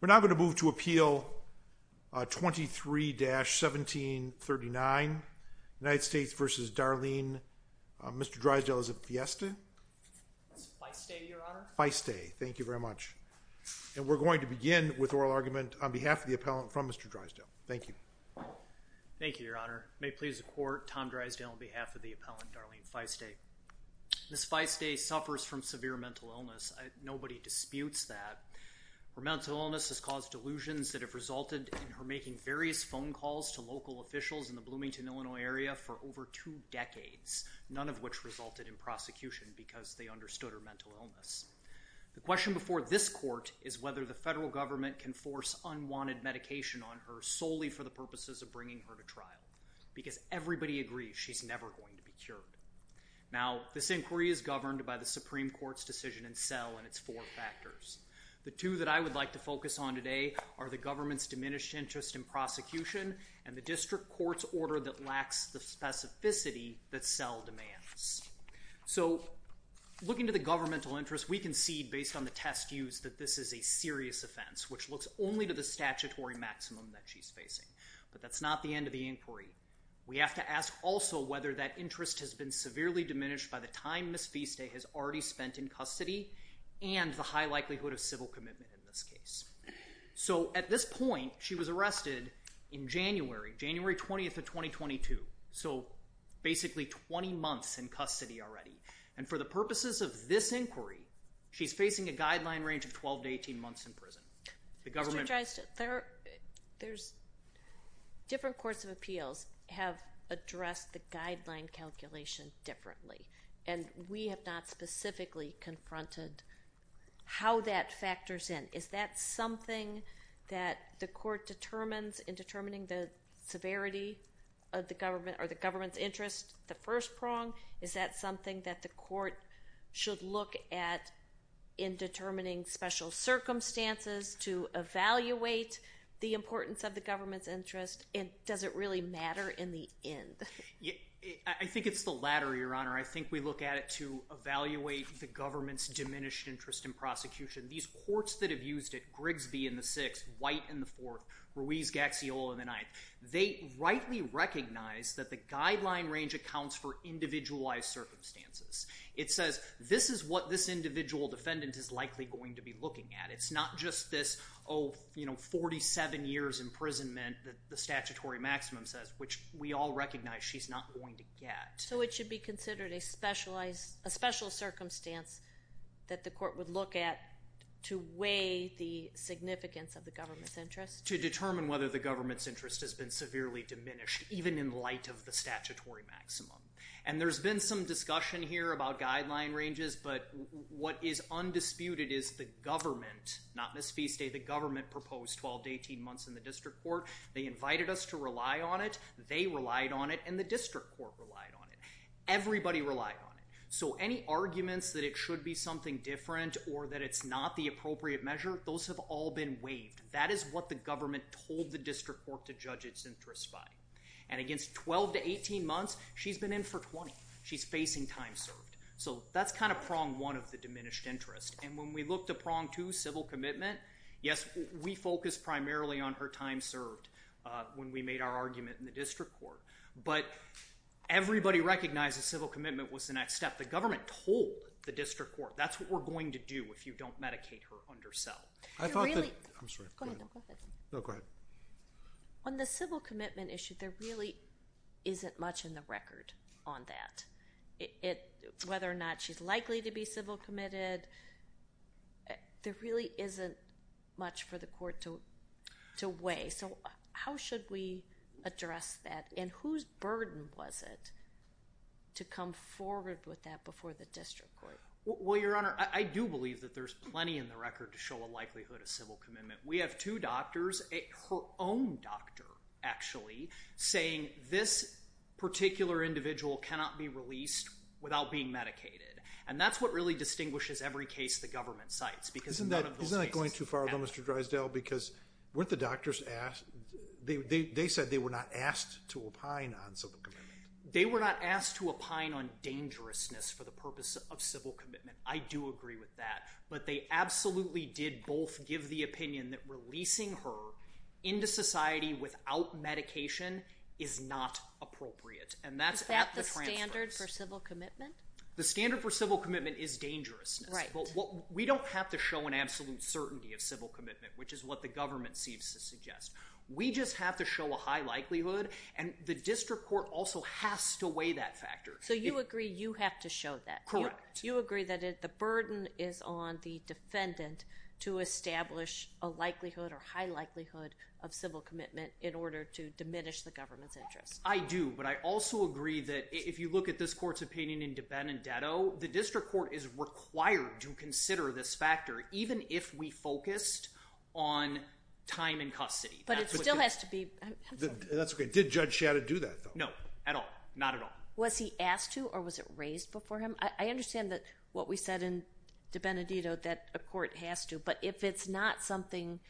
We're now going to move to appeal 23-1739, United States v. Darlene, Mr. Dreisdell is Fieste. Fieste, thank you very much, and we're going to begin with oral argument on behalf of the appellant from Mr. Dreisdell. Thank you. Thank you, Your Honor. May it please the Court, Tom Dreisdell on behalf of the appellant Darlene Fieste. Ms. Fieste suffers from severe mental illness. Nobody disputes that. Her mental illness has caused delusions that have resulted in her making various phone calls to local officials in the Bloomington, Illinois area for over two decades, none of which resulted in prosecution because they understood her mental illness. The question before this Court is whether the federal government can force unwanted medication on her solely for the purposes of bringing her to trial, because everybody agrees she's never going to be cured. Now, this inquiry is governed by the Supreme Court's decision in cell and its four factors. The two that I would like to focus on today are the government's diminished interest in prosecution and the district court's order that lacks the specificity that cell demands. So, looking to the governmental interest, we concede based on the test used that this is a serious offense, which looks only to the statutory maximum that she's facing, but that's not the end of the inquiry. We have to ask also whether that interest has been severely diminished by the time Ms. Fieste has already spent in custody and the high likelihood of civil commitment in this case. So, at this point, she was arrested in January, January 20th 2022, so basically 20 months in custody already, and for the purposes of this inquiry, she's facing a guideline range of 12 to 18 months in prison. The government... There's different courts of appeals have addressed the guideline calculation differently, and we have not specifically confronted how that factors in. Is that something that the court determines in determining the government or the government's interest, the first prong? Is that something that the court should look at in determining special circumstances to evaluate the importance of the government's interest, and does it really matter in the end? I think it's the latter, Your Honor. I think we look at it to evaluate the government's diminished interest in prosecution. These courts that have used it, Grigsby in the sixth, White in the fourth, Ruiz-Gaxiola in the ninth, they rightly recognize that the guideline range accounts for individualized circumstances. It says, this is what this individual defendant is likely going to be looking at. It's not just this, oh, you know, 47 years imprisonment that the statutory maximum says, which we all recognize she's not going to get. So it should be considered a specialized, a special circumstance that the court would look at to weigh the significance of the government's interest? To determine whether the government's interest has been severely diminished, even in light of the statutory maximum. And there's been some discussion here about guideline ranges, but what is undisputed is the government, not Ms. Feastay, the government proposed 12 to 18 months in the district court. They invited us to rely on it, they relied on it, and the district court relied on it. Everybody relied on it. So any arguments that it should be something different or that it's not the appropriate measure, those have all been waived. That is what the district court to judge its interest by. And against 12 to 18 months, she's been in for 20. She's facing time served. So that's kind of prong one of the diminished interest. And when we look to prong two, civil commitment, yes, we focus primarily on her time served when we made our argument in the district court. But everybody recognizes civil commitment was the next step. The government told the district court, that's what we're going to do if you don't medicate her under cell. On the civil commitment issue, there really isn't much in the record on that. Whether or not she's likely to be civil committed, there really isn't much for the court to weigh. So how should we address that? And whose burden was it to come forward with that before the court? There's plenty in the record to show a likelihood of civil commitment. We have two doctors, her own doctor, actually, saying this particular individual cannot be released without being medicated. And that's what really distinguishes every case the government cites. Isn't that going too far though, Mr. Drysdale? Because weren't the doctors asked, they said they were not asked to opine on civil commitment. They were not asked to opine on dangerousness for the purpose of civil commitment. I do agree with that. But they absolutely did both give the opinion that releasing her into society without medication is not appropriate. And that's at the transfer. Is that the standard for civil commitment? The standard for civil commitment is dangerousness. Right. But what we don't have to show an absolute certainty of civil commitment, which is what the government seems to suggest. We just have to show a high likelihood. And the district court also has to weigh that factor. So you agree you have to show that. Correct. You agree that the burden is on the defendant to establish a likelihood or high likelihood of civil commitment in order to diminish the government's interest. I do. But I also agree that if you look at this court's opinion in Benedetto, the district court is required to consider this factor even if we focused on time in custody. But it still has to be... That's okay. Did Judge Shadid do that? No. At all. Not at all. Was he asked to or was it raised before him? I understand that what we said in Benedetto that a court has to. But if it's not something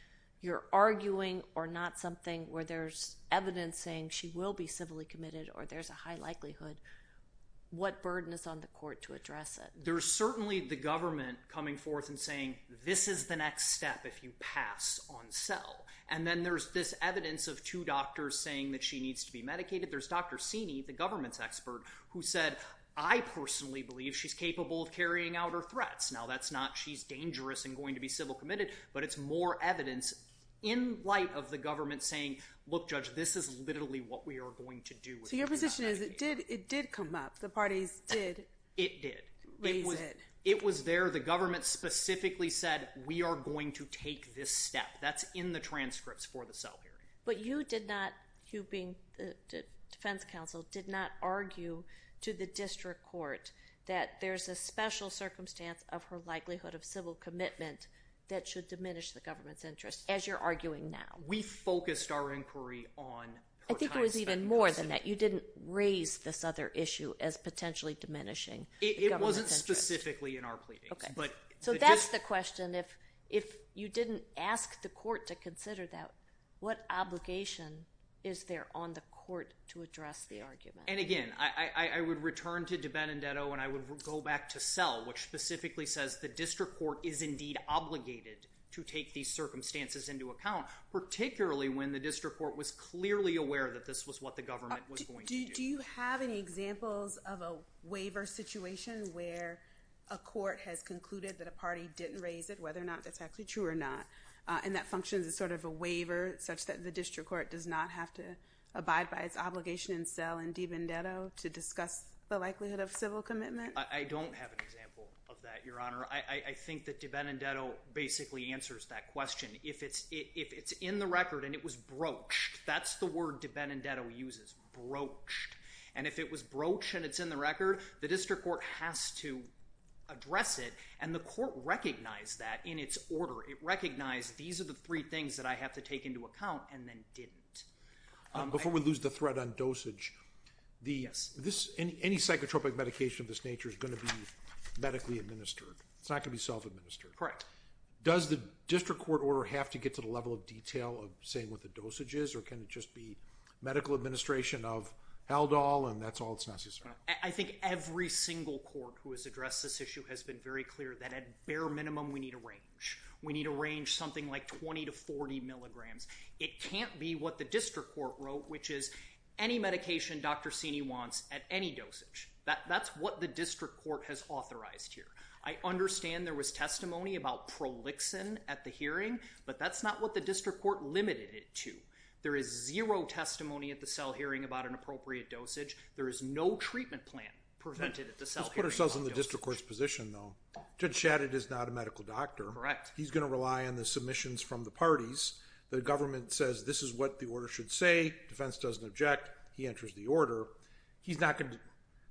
you're arguing or not something where there's evidence saying she will be civilly committed or there's a high likelihood, what burden is on the court to address it? There's certainly the government coming forth and saying this is the next step if you pass on cell. And then there's this evidence of two doctors saying that she needs to be medicated. There's Dr. Sini, the government's expert, who said I personally believe she's capable of carrying out her threats. Now that's not she's dangerous and going to be civil committed, but it's more evidence in light of the government saying look judge this is literally what we are going to do. So your position is it did it did come up. The parties did. It did. It was there. The government specifically said we are going to take this step. That's in the transcripts for the cell hearing. But you did not, you being the defense counsel, did not argue to the district court that there's a special circumstance of her likelihood of civil commitment that should diminish the government's interest as you're arguing now. We focused our inquiry on. I think it was even more than that. You didn't raise this other issue as potentially diminishing. It wasn't specifically in our pleadings. So that's the question. If you didn't ask the court to what obligation is there on the court to address the argument. And again I would return to DiBenedetto and I would go back to Sell which specifically says the district court is indeed obligated to take these circumstances into account particularly when the district court was clearly aware that this was what the government was going to do. Do you have any examples of a waiver situation where a court has concluded that a party didn't raise it whether or not that's actually true or not and that functions as sort of a waiver such that the district court does not have to abide by its obligation in Sell and DiBenedetto to discuss the likelihood of civil commitment? I don't have an example of that, your honor. I think that DiBenedetto basically answers that question. If it's in the record and it was broached, that's the word DiBenedetto uses. Broached. And if it was broached and it's in the record, the district court has to address it and the court recognized that in its order it recognized these are the three things that I have to take into account and then didn't. Before we lose the thread on dosage, any psychotropic medication of this nature is going to be medically administered. It's not going to be self-administered. Correct. Does the district court order have to get to the level of detail of saying what the dosage is or can it just be medical administration of Haldol and that's all it's necessary? I think every single court who has addressed this issue has been very clear that at bare minimum we need a range. We need a range something like 20 to 40 milligrams. It can't be what the district court wrote, which is any medication Dr. Cini wants at any dosage. That's what the district court has authorized here. I understand there was testimony about prolixin at the hearing, but that's not what the district court limited it to. There is zero testimony at the cell hearing about an appropriate dosage. There is no treatment plan prevented at the cell hearing about dosage. Let's put ourselves in the district court's position though. Judge Shadid is not a medical doctor. Correct. He's going to rely on the submissions from the parties. The government says this is what the order should say. Defense doesn't object. He enters the order.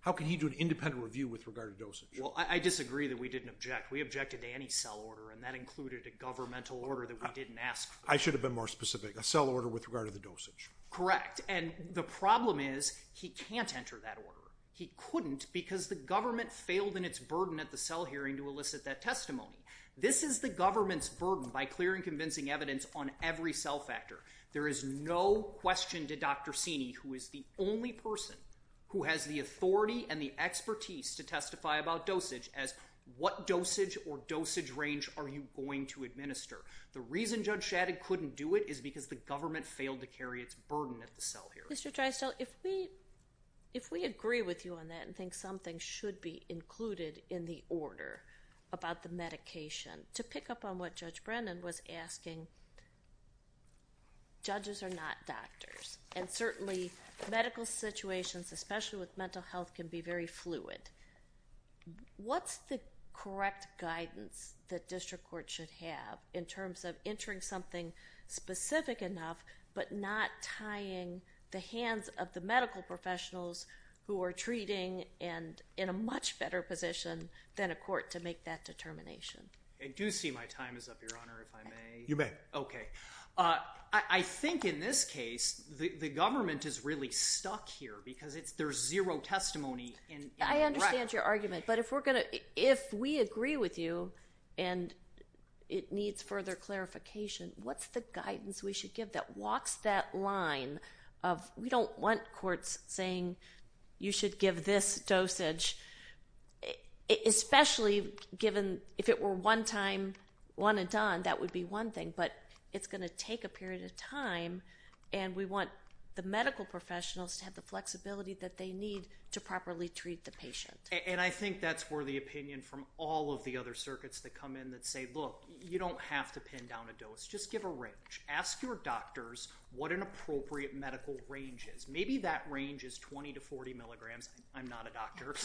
How can he do an independent review with regard to dosage? Well I disagree that we didn't object. We objected to any cell order and that included a governmental order that we didn't ask for. I should have been more specific. A cell order with regard to the dosage. Correct. And the problem is he can't enter that order. He couldn't because the government failed in its burden at the testimony. This is the government's burden by clearing convincing evidence on every cell factor. There is no question to Dr. Sini who is the only person who has the authority and the expertise to testify about dosage as what dosage or dosage range are you going to administer. The reason Judge Shadid couldn't do it is because the government failed to carry its burden at the cell hearing. Mr. Drysdale, if we agree with you on that and think something should be included in the order about the medication, to pick up on what Judge Brennan was asking, judges are not doctors and certainly medical situations especially with mental health can be very fluid. What's the correct guidance that district court should have in terms of entering something specific enough but not tying the hands of the medical professionals who are treating and in a much better position than a court to make that determination? I do see my time is up, Your Honor, if I may. You may. Okay. I think in this case the government is really stuck here because it's there's zero testimony. I understand your argument but if we're gonna if we agree with you and it needs further clarification, what's the guidance we should give that walks that line of we should give this dosage especially given if it were one time one and done that would be one thing but it's gonna take a period of time and we want the medical professionals to have the flexibility that they need to properly treat the patient. And I think that's where the opinion from all of the other circuits that come in that say look you don't have to pin down a dose just give a range. Ask your doctors what an appropriate medical range is. Maybe that I'm not a doctor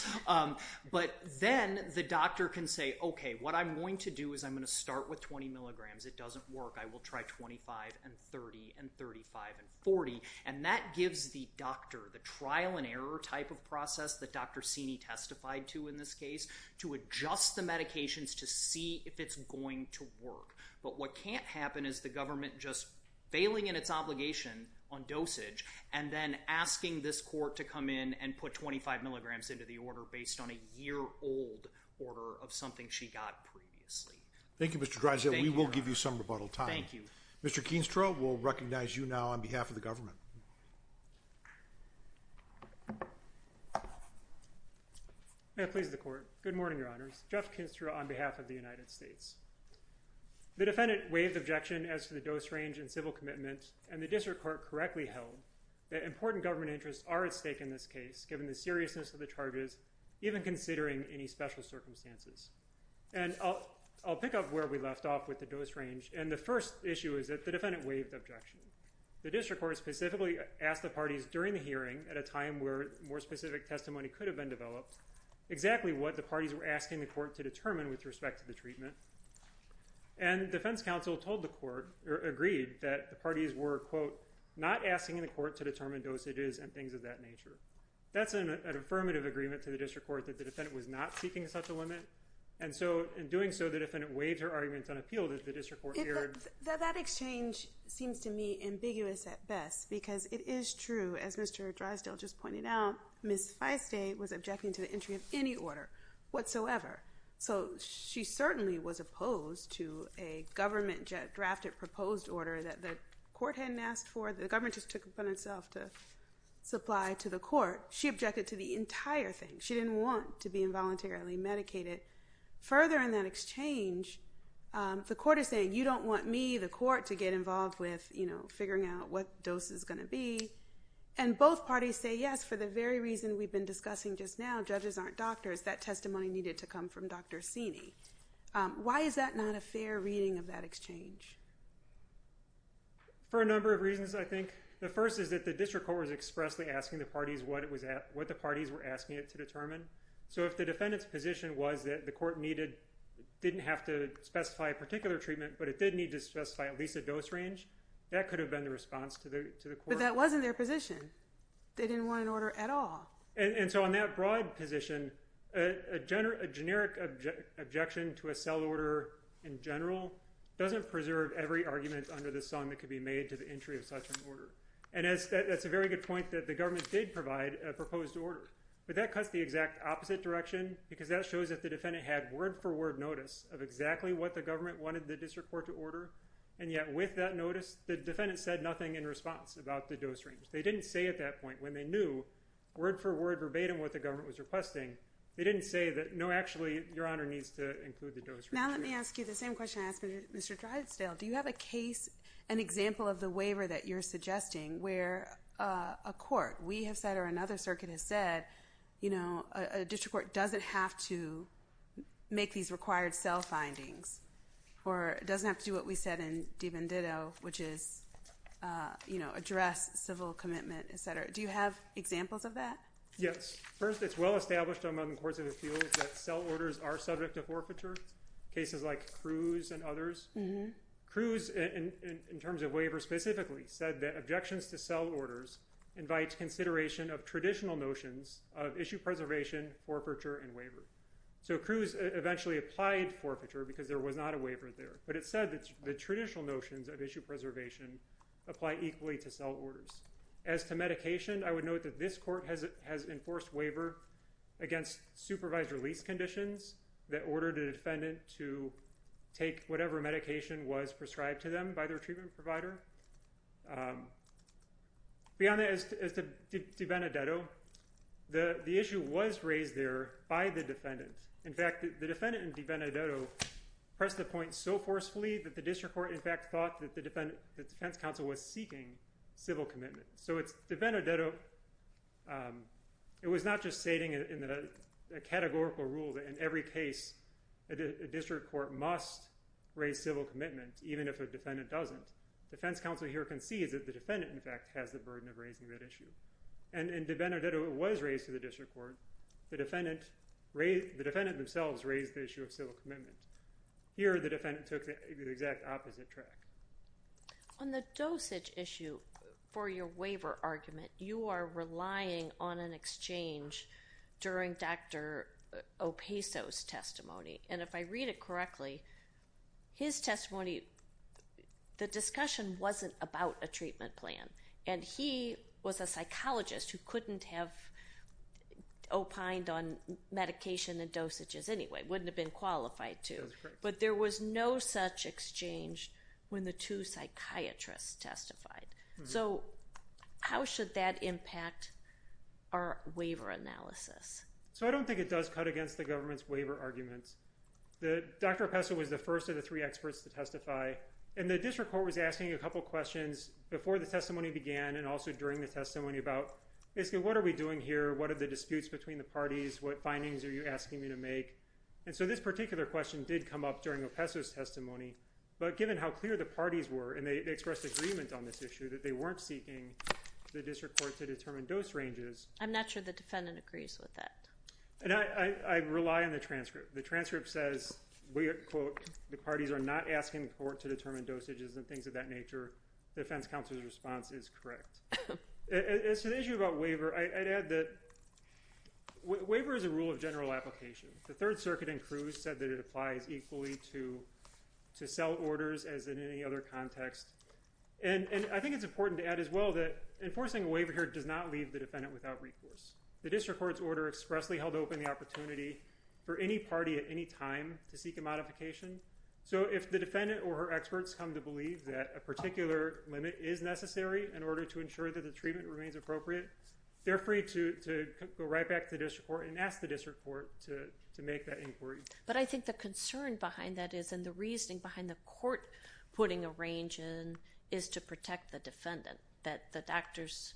but then the doctor can say okay what I'm going to do is I'm going to start with 20 milligrams. It doesn't work. I will try 25 and 30 and 35 and 40 and that gives the doctor the trial and error type of process that Dr. Cini testified to in this case to adjust the medications to see if it's going to work. But what can't happen is the government just failing in its obligation on dosage and then asking this court to come in and put 25 milligrams into the order based on a year-old order of something she got previously. Thank you Mr. Dreiselt. We will give you some rebuttal time. Thank you. Mr. Keenstra we'll recognize you now on behalf of the government. May it please the court. Good morning your honors. Jeff Keenstra on behalf of the United States. The defendant waived objection as to the dose range and civil commitment and the district court correctly held that important government interests are at stake in this case given the seriousness of the charges even considering any special circumstances. And I'll pick up where we left off with the dose range and the first issue is that the defendant waived objection. The district court specifically asked the parties during the hearing at a time where more specific testimony could have been developed exactly what the parties were asking the court to determine with respect to the treatment. And defense counsel told the court or agreed that the parties were quote not asking in the court to determine dosages and things of that nature. That's an affirmative agreement to the district court that the defendant was not seeking such a limit and so in doing so the defendant waived her arguments on appeal that the district court. That exchange seems to me ambiguous at best because it is true as Mr. Dreiselt just pointed out Ms. Feistay was objecting to the entry of any order whatsoever. So she certainly was opposed to a government drafted proposed order that the court hadn't asked for. The government just took it upon itself to supply to the court. She objected to the entire thing. She didn't want to be involuntarily medicated. Further in that exchange the court is saying you don't want me the court to get involved with you know figuring out what dose is going to be and both parties say yes for the very reason we've been discussing just now judges aren't doctors. That testimony needed to come from Dr. Sini. Why is that not a fair reading of that exchange? For a number of reasons I think. The first is that the district court was expressly asking the parties what it was at what the parties were asking it to determine. So if the defendant's position was that the court needed didn't have to specify a particular treatment but it did need to specify at least a dose range that could have been the response to the to the court. But that wasn't their position. They didn't want an order at all. And so on that broad position a general a generic objection to a cell order in general doesn't preserve every argument under the sun that could be made to the entry of such an order. And as that's a very good point that the government did provide a proposed order but that cuts the exact opposite direction because that shows that the defendant had word for word notice of exactly what the government wanted the district court to order and yet with that notice the defendant said nothing in response about the dose range. They didn't say at that point when they knew word for word verbatim what the government was requesting they didn't say that no actually your honor needs to include the dose. Now let me ask you the same question I asked Mr. Drysdale. Do you have a case an example of the waiver that you're suggesting where a court we have said or another circuit has said you know a district court doesn't have to make these required cell findings or doesn't have to do what we said in DiVenditto which is you know address civil commitment etc. Do you have examples of that? Yes first it's well established among the courts of the field that cell orders are subject to forfeiture cases like Cruz and others. Cruz in terms of waiver specifically said that objections to cell orders invites consideration of traditional notions of issue preservation forfeiture and waiver. So Cruz eventually applied forfeiture because there was not a waiver there but it said that the traditional notions of issue preservation apply equally to cell orders. As to medication I would note that this court has it has enforced waiver against supervised release conditions that ordered a defendant to take whatever medication was prescribed to them by their treatment provider. Beyond that as to DiVenditto the the issue was raised there by the press the point so forcefully that the district court in fact thought that the defense counsel was seeking civil commitment. So it's DiVenditto it was not just stating in a categorical rule that in every case a district court must raise civil commitment even if a defendant doesn't. Defense counsel here concedes that the defendant in fact has the burden of raising that issue and in DiVenditto it was raised to the district court. The defendant the defendant themselves raised the issue of civil commitment. Here the defendant took the exact opposite track. On the dosage issue for your waiver argument you are relying on an exchange during Dr. Opaso's testimony and if I read it correctly his testimony the discussion wasn't about a treatment plan and he was a psychologist who couldn't have opined on medication and dosages anyway wouldn't have been qualified to but there was no such exchange when the two psychiatrists testified. So how should that impact our waiver analysis? So I don't think it does cut against the government's waiver arguments. Dr. Opaso was the first of the three experts to testify and the district court was So when the testimony began and also during the testimony about basically what are we doing here what are the disputes between the parties what findings are you asking me to make and so this particular question did come up during Opaso's testimony but given how clear the parties were and they expressed agreement on this issue that they weren't seeking the district court to determine dose ranges. I'm not sure the defendant agrees with that. And I rely on the transcript. The transcript says we quote the parties are not asking the court to determine dosages and things of that nature. The defense counsel's response is correct. As to the issue about waiver I'd add that waiver is a rule of general application. The Third Circuit and Cruz said that it applies equally to to sell orders as in any other context and I think it's important to add as well that enforcing a waiver here does not leave the defendant without recourse. The district court's order expressly held open the opportunity for any party at any time to seek a modification. So if the defendant or experts come to believe that a particular limit is necessary in order to ensure that the treatment remains appropriate they're free to go right back to the district court and ask the district court to make that inquiry. But I think the concern behind that is and the reasoning behind the court putting a range in is to protect the defendant that the doctors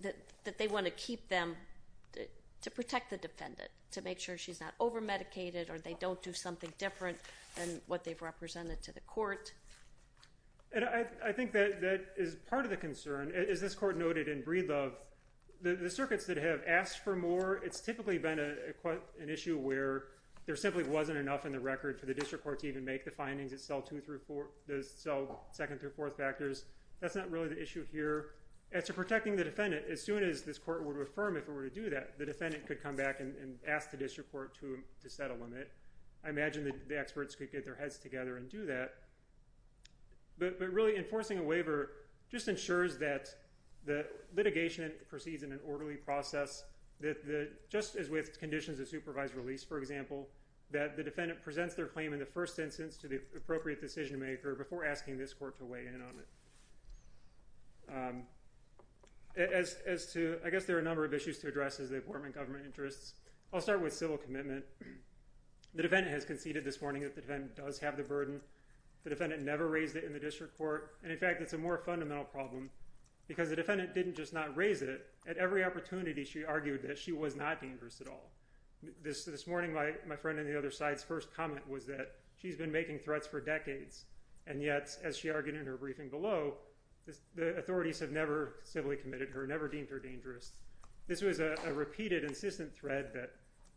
that they want to keep them to protect the defendant to make sure she's not over medicated or they don't do something different than what they've represented to the court. I think that that is part of the concern as this court noted in Breedlove the circuits that have asked for more it's typically been a quite an issue where there simply wasn't enough in the record for the district court to even make the findings that sell two through four does so second through fourth factors that's not really the issue here. As to protecting the defendant as soon as this court would affirm if it were to do that the defendant could come back and ask the district court to set a limit. I imagine that the experts could get their heads together and do that but really enforcing a waiver just ensures that the litigation proceeds in an orderly process that just as with conditions of supervised release for example that the defendant presents their claim in the first instance to the appropriate decision maker before asking this court to weigh in on it. As to I guess there are a number of issues to with civil commitment the defendant has conceded this morning that the defendant does have the burden the defendant never raised it in the district court and in fact it's a more fundamental problem because the defendant didn't just not raise it at every opportunity she argued that she was not dangerous at all. This this morning my my friend on the other side's first comment was that she's been making threats for decades and yet as she argued in her briefing below the authorities have never civilly committed her never deemed her dangerous. This was a repeated insistent thread that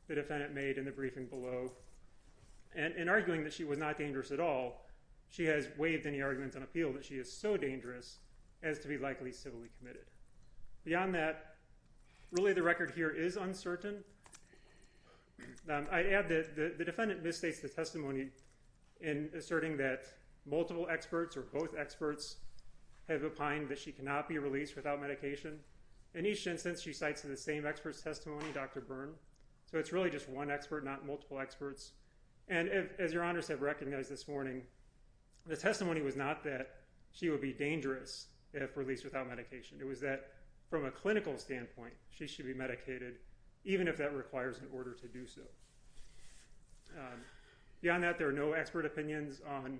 the defendant made in the briefing below and in arguing that she was not dangerous at all she has waived any arguments on appeal that she is so dangerous as to be likely civilly committed. Beyond that really the record here is uncertain. I add that the defendant misstates the testimony in asserting that multiple experts or both experts have opined that she cannot be released without medication. In each instance she cites in the same experts testimony Dr. Byrne so it's really just one expert not multiple experts and as your honors have recognized this morning the testimony was not that she would be dangerous if released without medication it was that from a clinical standpoint she should be medicated even if that requires an order to do so. Beyond that there are no expert opinions on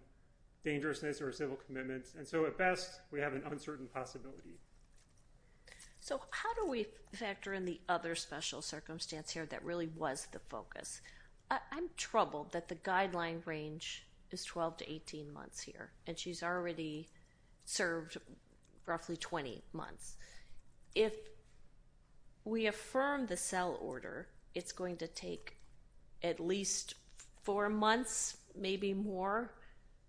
dangerousness or civil commitments and so at best we have an uncertain possibility. So how do we factor in the other special circumstance here that really was the focus? I'm troubled that the guideline range is 12 to 18 months here and she's already served roughly 20 months. If we affirm the cell order it's going to take at least four months maybe more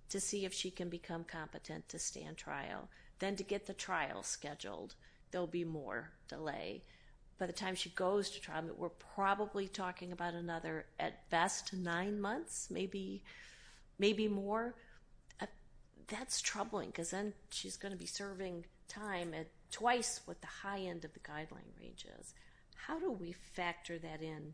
to see if she can become competent to stand trial. Then to get the trial scheduled there'll be more delay. By the time she goes to trial we're probably talking about another at best nine months maybe more. That's troubling because then she's going to be serving time at twice what the high end of the guideline range is. How do we factor that in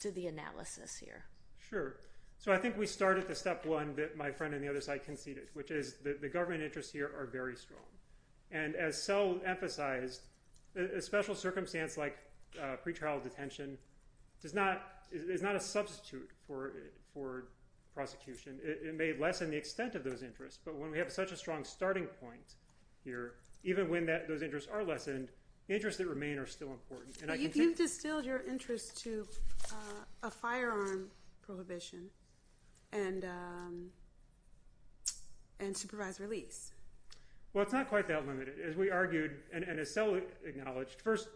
to the analysis here? Sure so I think we start at the step one that my friend on the other side conceded which is that the government interests here are very strong and as Sel emphasized a special circumstance like pretrial detention is not a substitute for it for prosecution. It may lessen the extent of those interests but when we have such a strong starting point here even when that those interests are lessened interests that remain are still important. You've distilled your interest to a firearm prohibition and supervised release. Well it's not quite that limited. As we argued and as Sel acknowledged first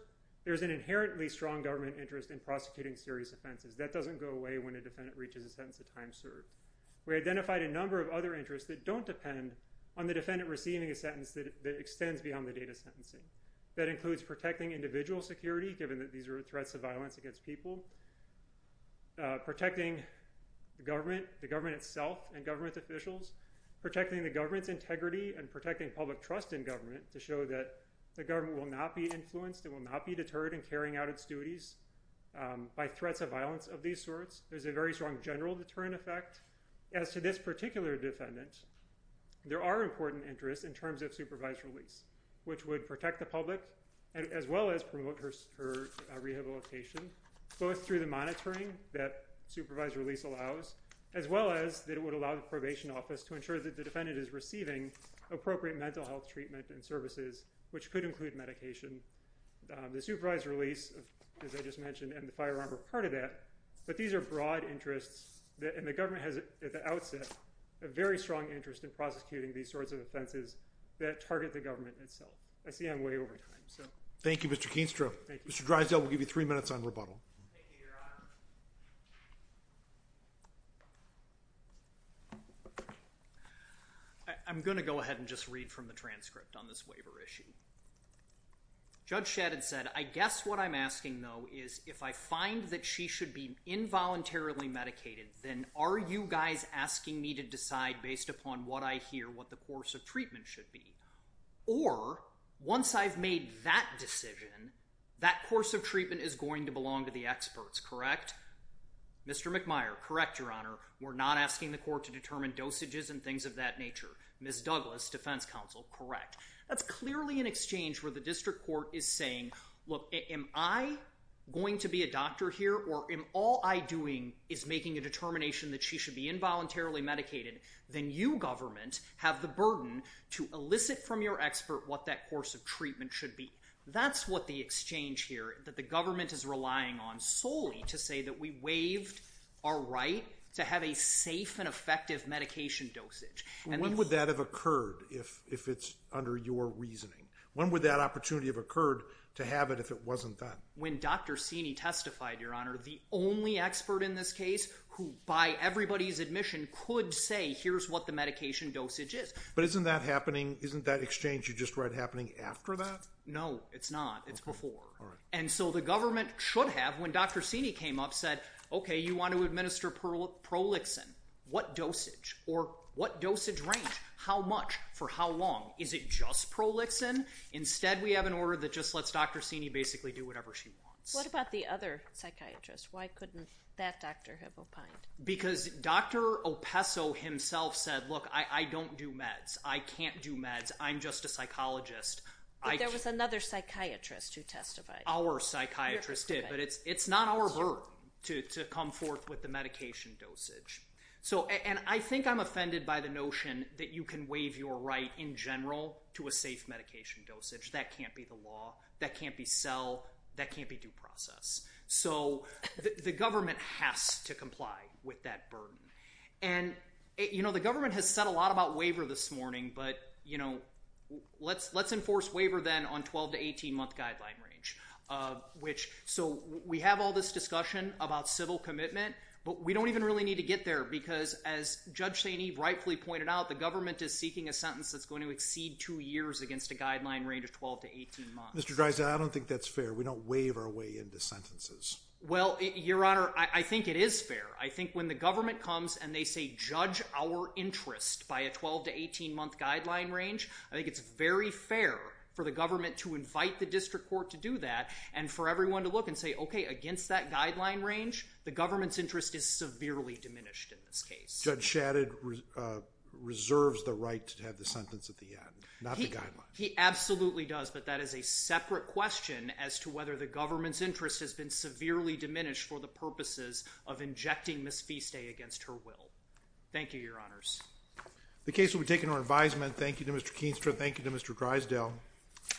there's an inherently strong government interest in prosecuting serious offenses. That doesn't go away when a defendant reaches a sentence of time served. We identified a number of other interests that don't depend on the defendant receiving a sentence that extends beyond the date of sentencing. That includes protecting individual security given that these are threats of violence against people, protecting the government, the government itself and government officials, protecting the government's integrity and protecting public trust in government to show that the government will not be influenced and will not be deterred in carrying out its duties by threats of violence of these sorts. There's a very strong general deterrent effect. As to this particular defendant there are important interests in terms of supervised release which would protect the public and as rehabilitation both through the monitoring that supervised release allows as well as that it would allow the probation office to ensure that the defendant is receiving appropriate mental health treatment and services which could include medication. The supervised release as I just mentioned and the firearm are part of that but these are broad interests that and the government has at the outset a very strong interest in prosecuting these sorts of offenses that target the government itself. I see I'm way over time so. Thank You Mr. Keenstrow. Mr. Drysdale will give you three minutes on rebuttal. I'm gonna go ahead and just read from the transcript on this waiver issue. Judge Shadid said I guess what I'm asking though is if I find that she should be involuntarily medicated then are you guys asking me to decide based upon what I hear what the course of treatment should be or once I've made that decision that course of treatment is going to belong to the experts correct? Mr. McMire correct your honor we're not asking the court to determine dosages and things of that nature. Ms. Douglas defense counsel correct. That's clearly an exchange where the district court is saying look am I going to be a doctor here or am all I doing is making a determination that she should be When Dr. Seeney testified your honor the only expert in this case who by everybody's admission could say here's what the medication dosage is. But isn't that happening isn't that exchange you just read happening after that? No it's not it's before and so the government should have when Dr. Seeney came up said okay you want to administer prolixin what dosage or what dosage range how much for how long is it just prolixin instead we have an order that just lets Dr. Seeney basically do whatever she wants. What about the other psychiatrists why couldn't that doctor have opined? Because Dr. Opesso himself said look I don't do meds I can't do meds I'm just a psychologist. There was another psychiatrist who testified. Our psychiatrist did but it's it's not our burden to come forth with the medication dosage so and I think I'm offended by the notion that you can waive your right in general to a safe medication dosage that can't be the law that can't be sell that can't be due process so the government has to comply with that burden and you know the government has said a lot about waiver this morning but you know let's let's enforce waiver then on 12 to 18 month guideline range of which so we have all this discussion about civil commitment but we don't even really need to get there because as Judge St. Eve rightfully pointed out the government is seeking a sentence that's Mr. Dreiser I don't think that's fair we don't waive our way into sentences. Well your honor I think it is fair I think when the government comes and they say judge our interest by a 12 to 18 month guideline range I think it's very fair for the government to invite the district court to do that and for everyone to look and say okay against that guideline range the government's interest is severely diminished in this case. Judge Shadid reserves the right to absolutely does but that is a separate question as to whether the government's interest has been severely diminished for the purposes of injecting Ms. Fiste against her will. Thank you your honors. The case will be taken our advisement thank you to Mr. Keenstra thank you to Mr. Greisdale.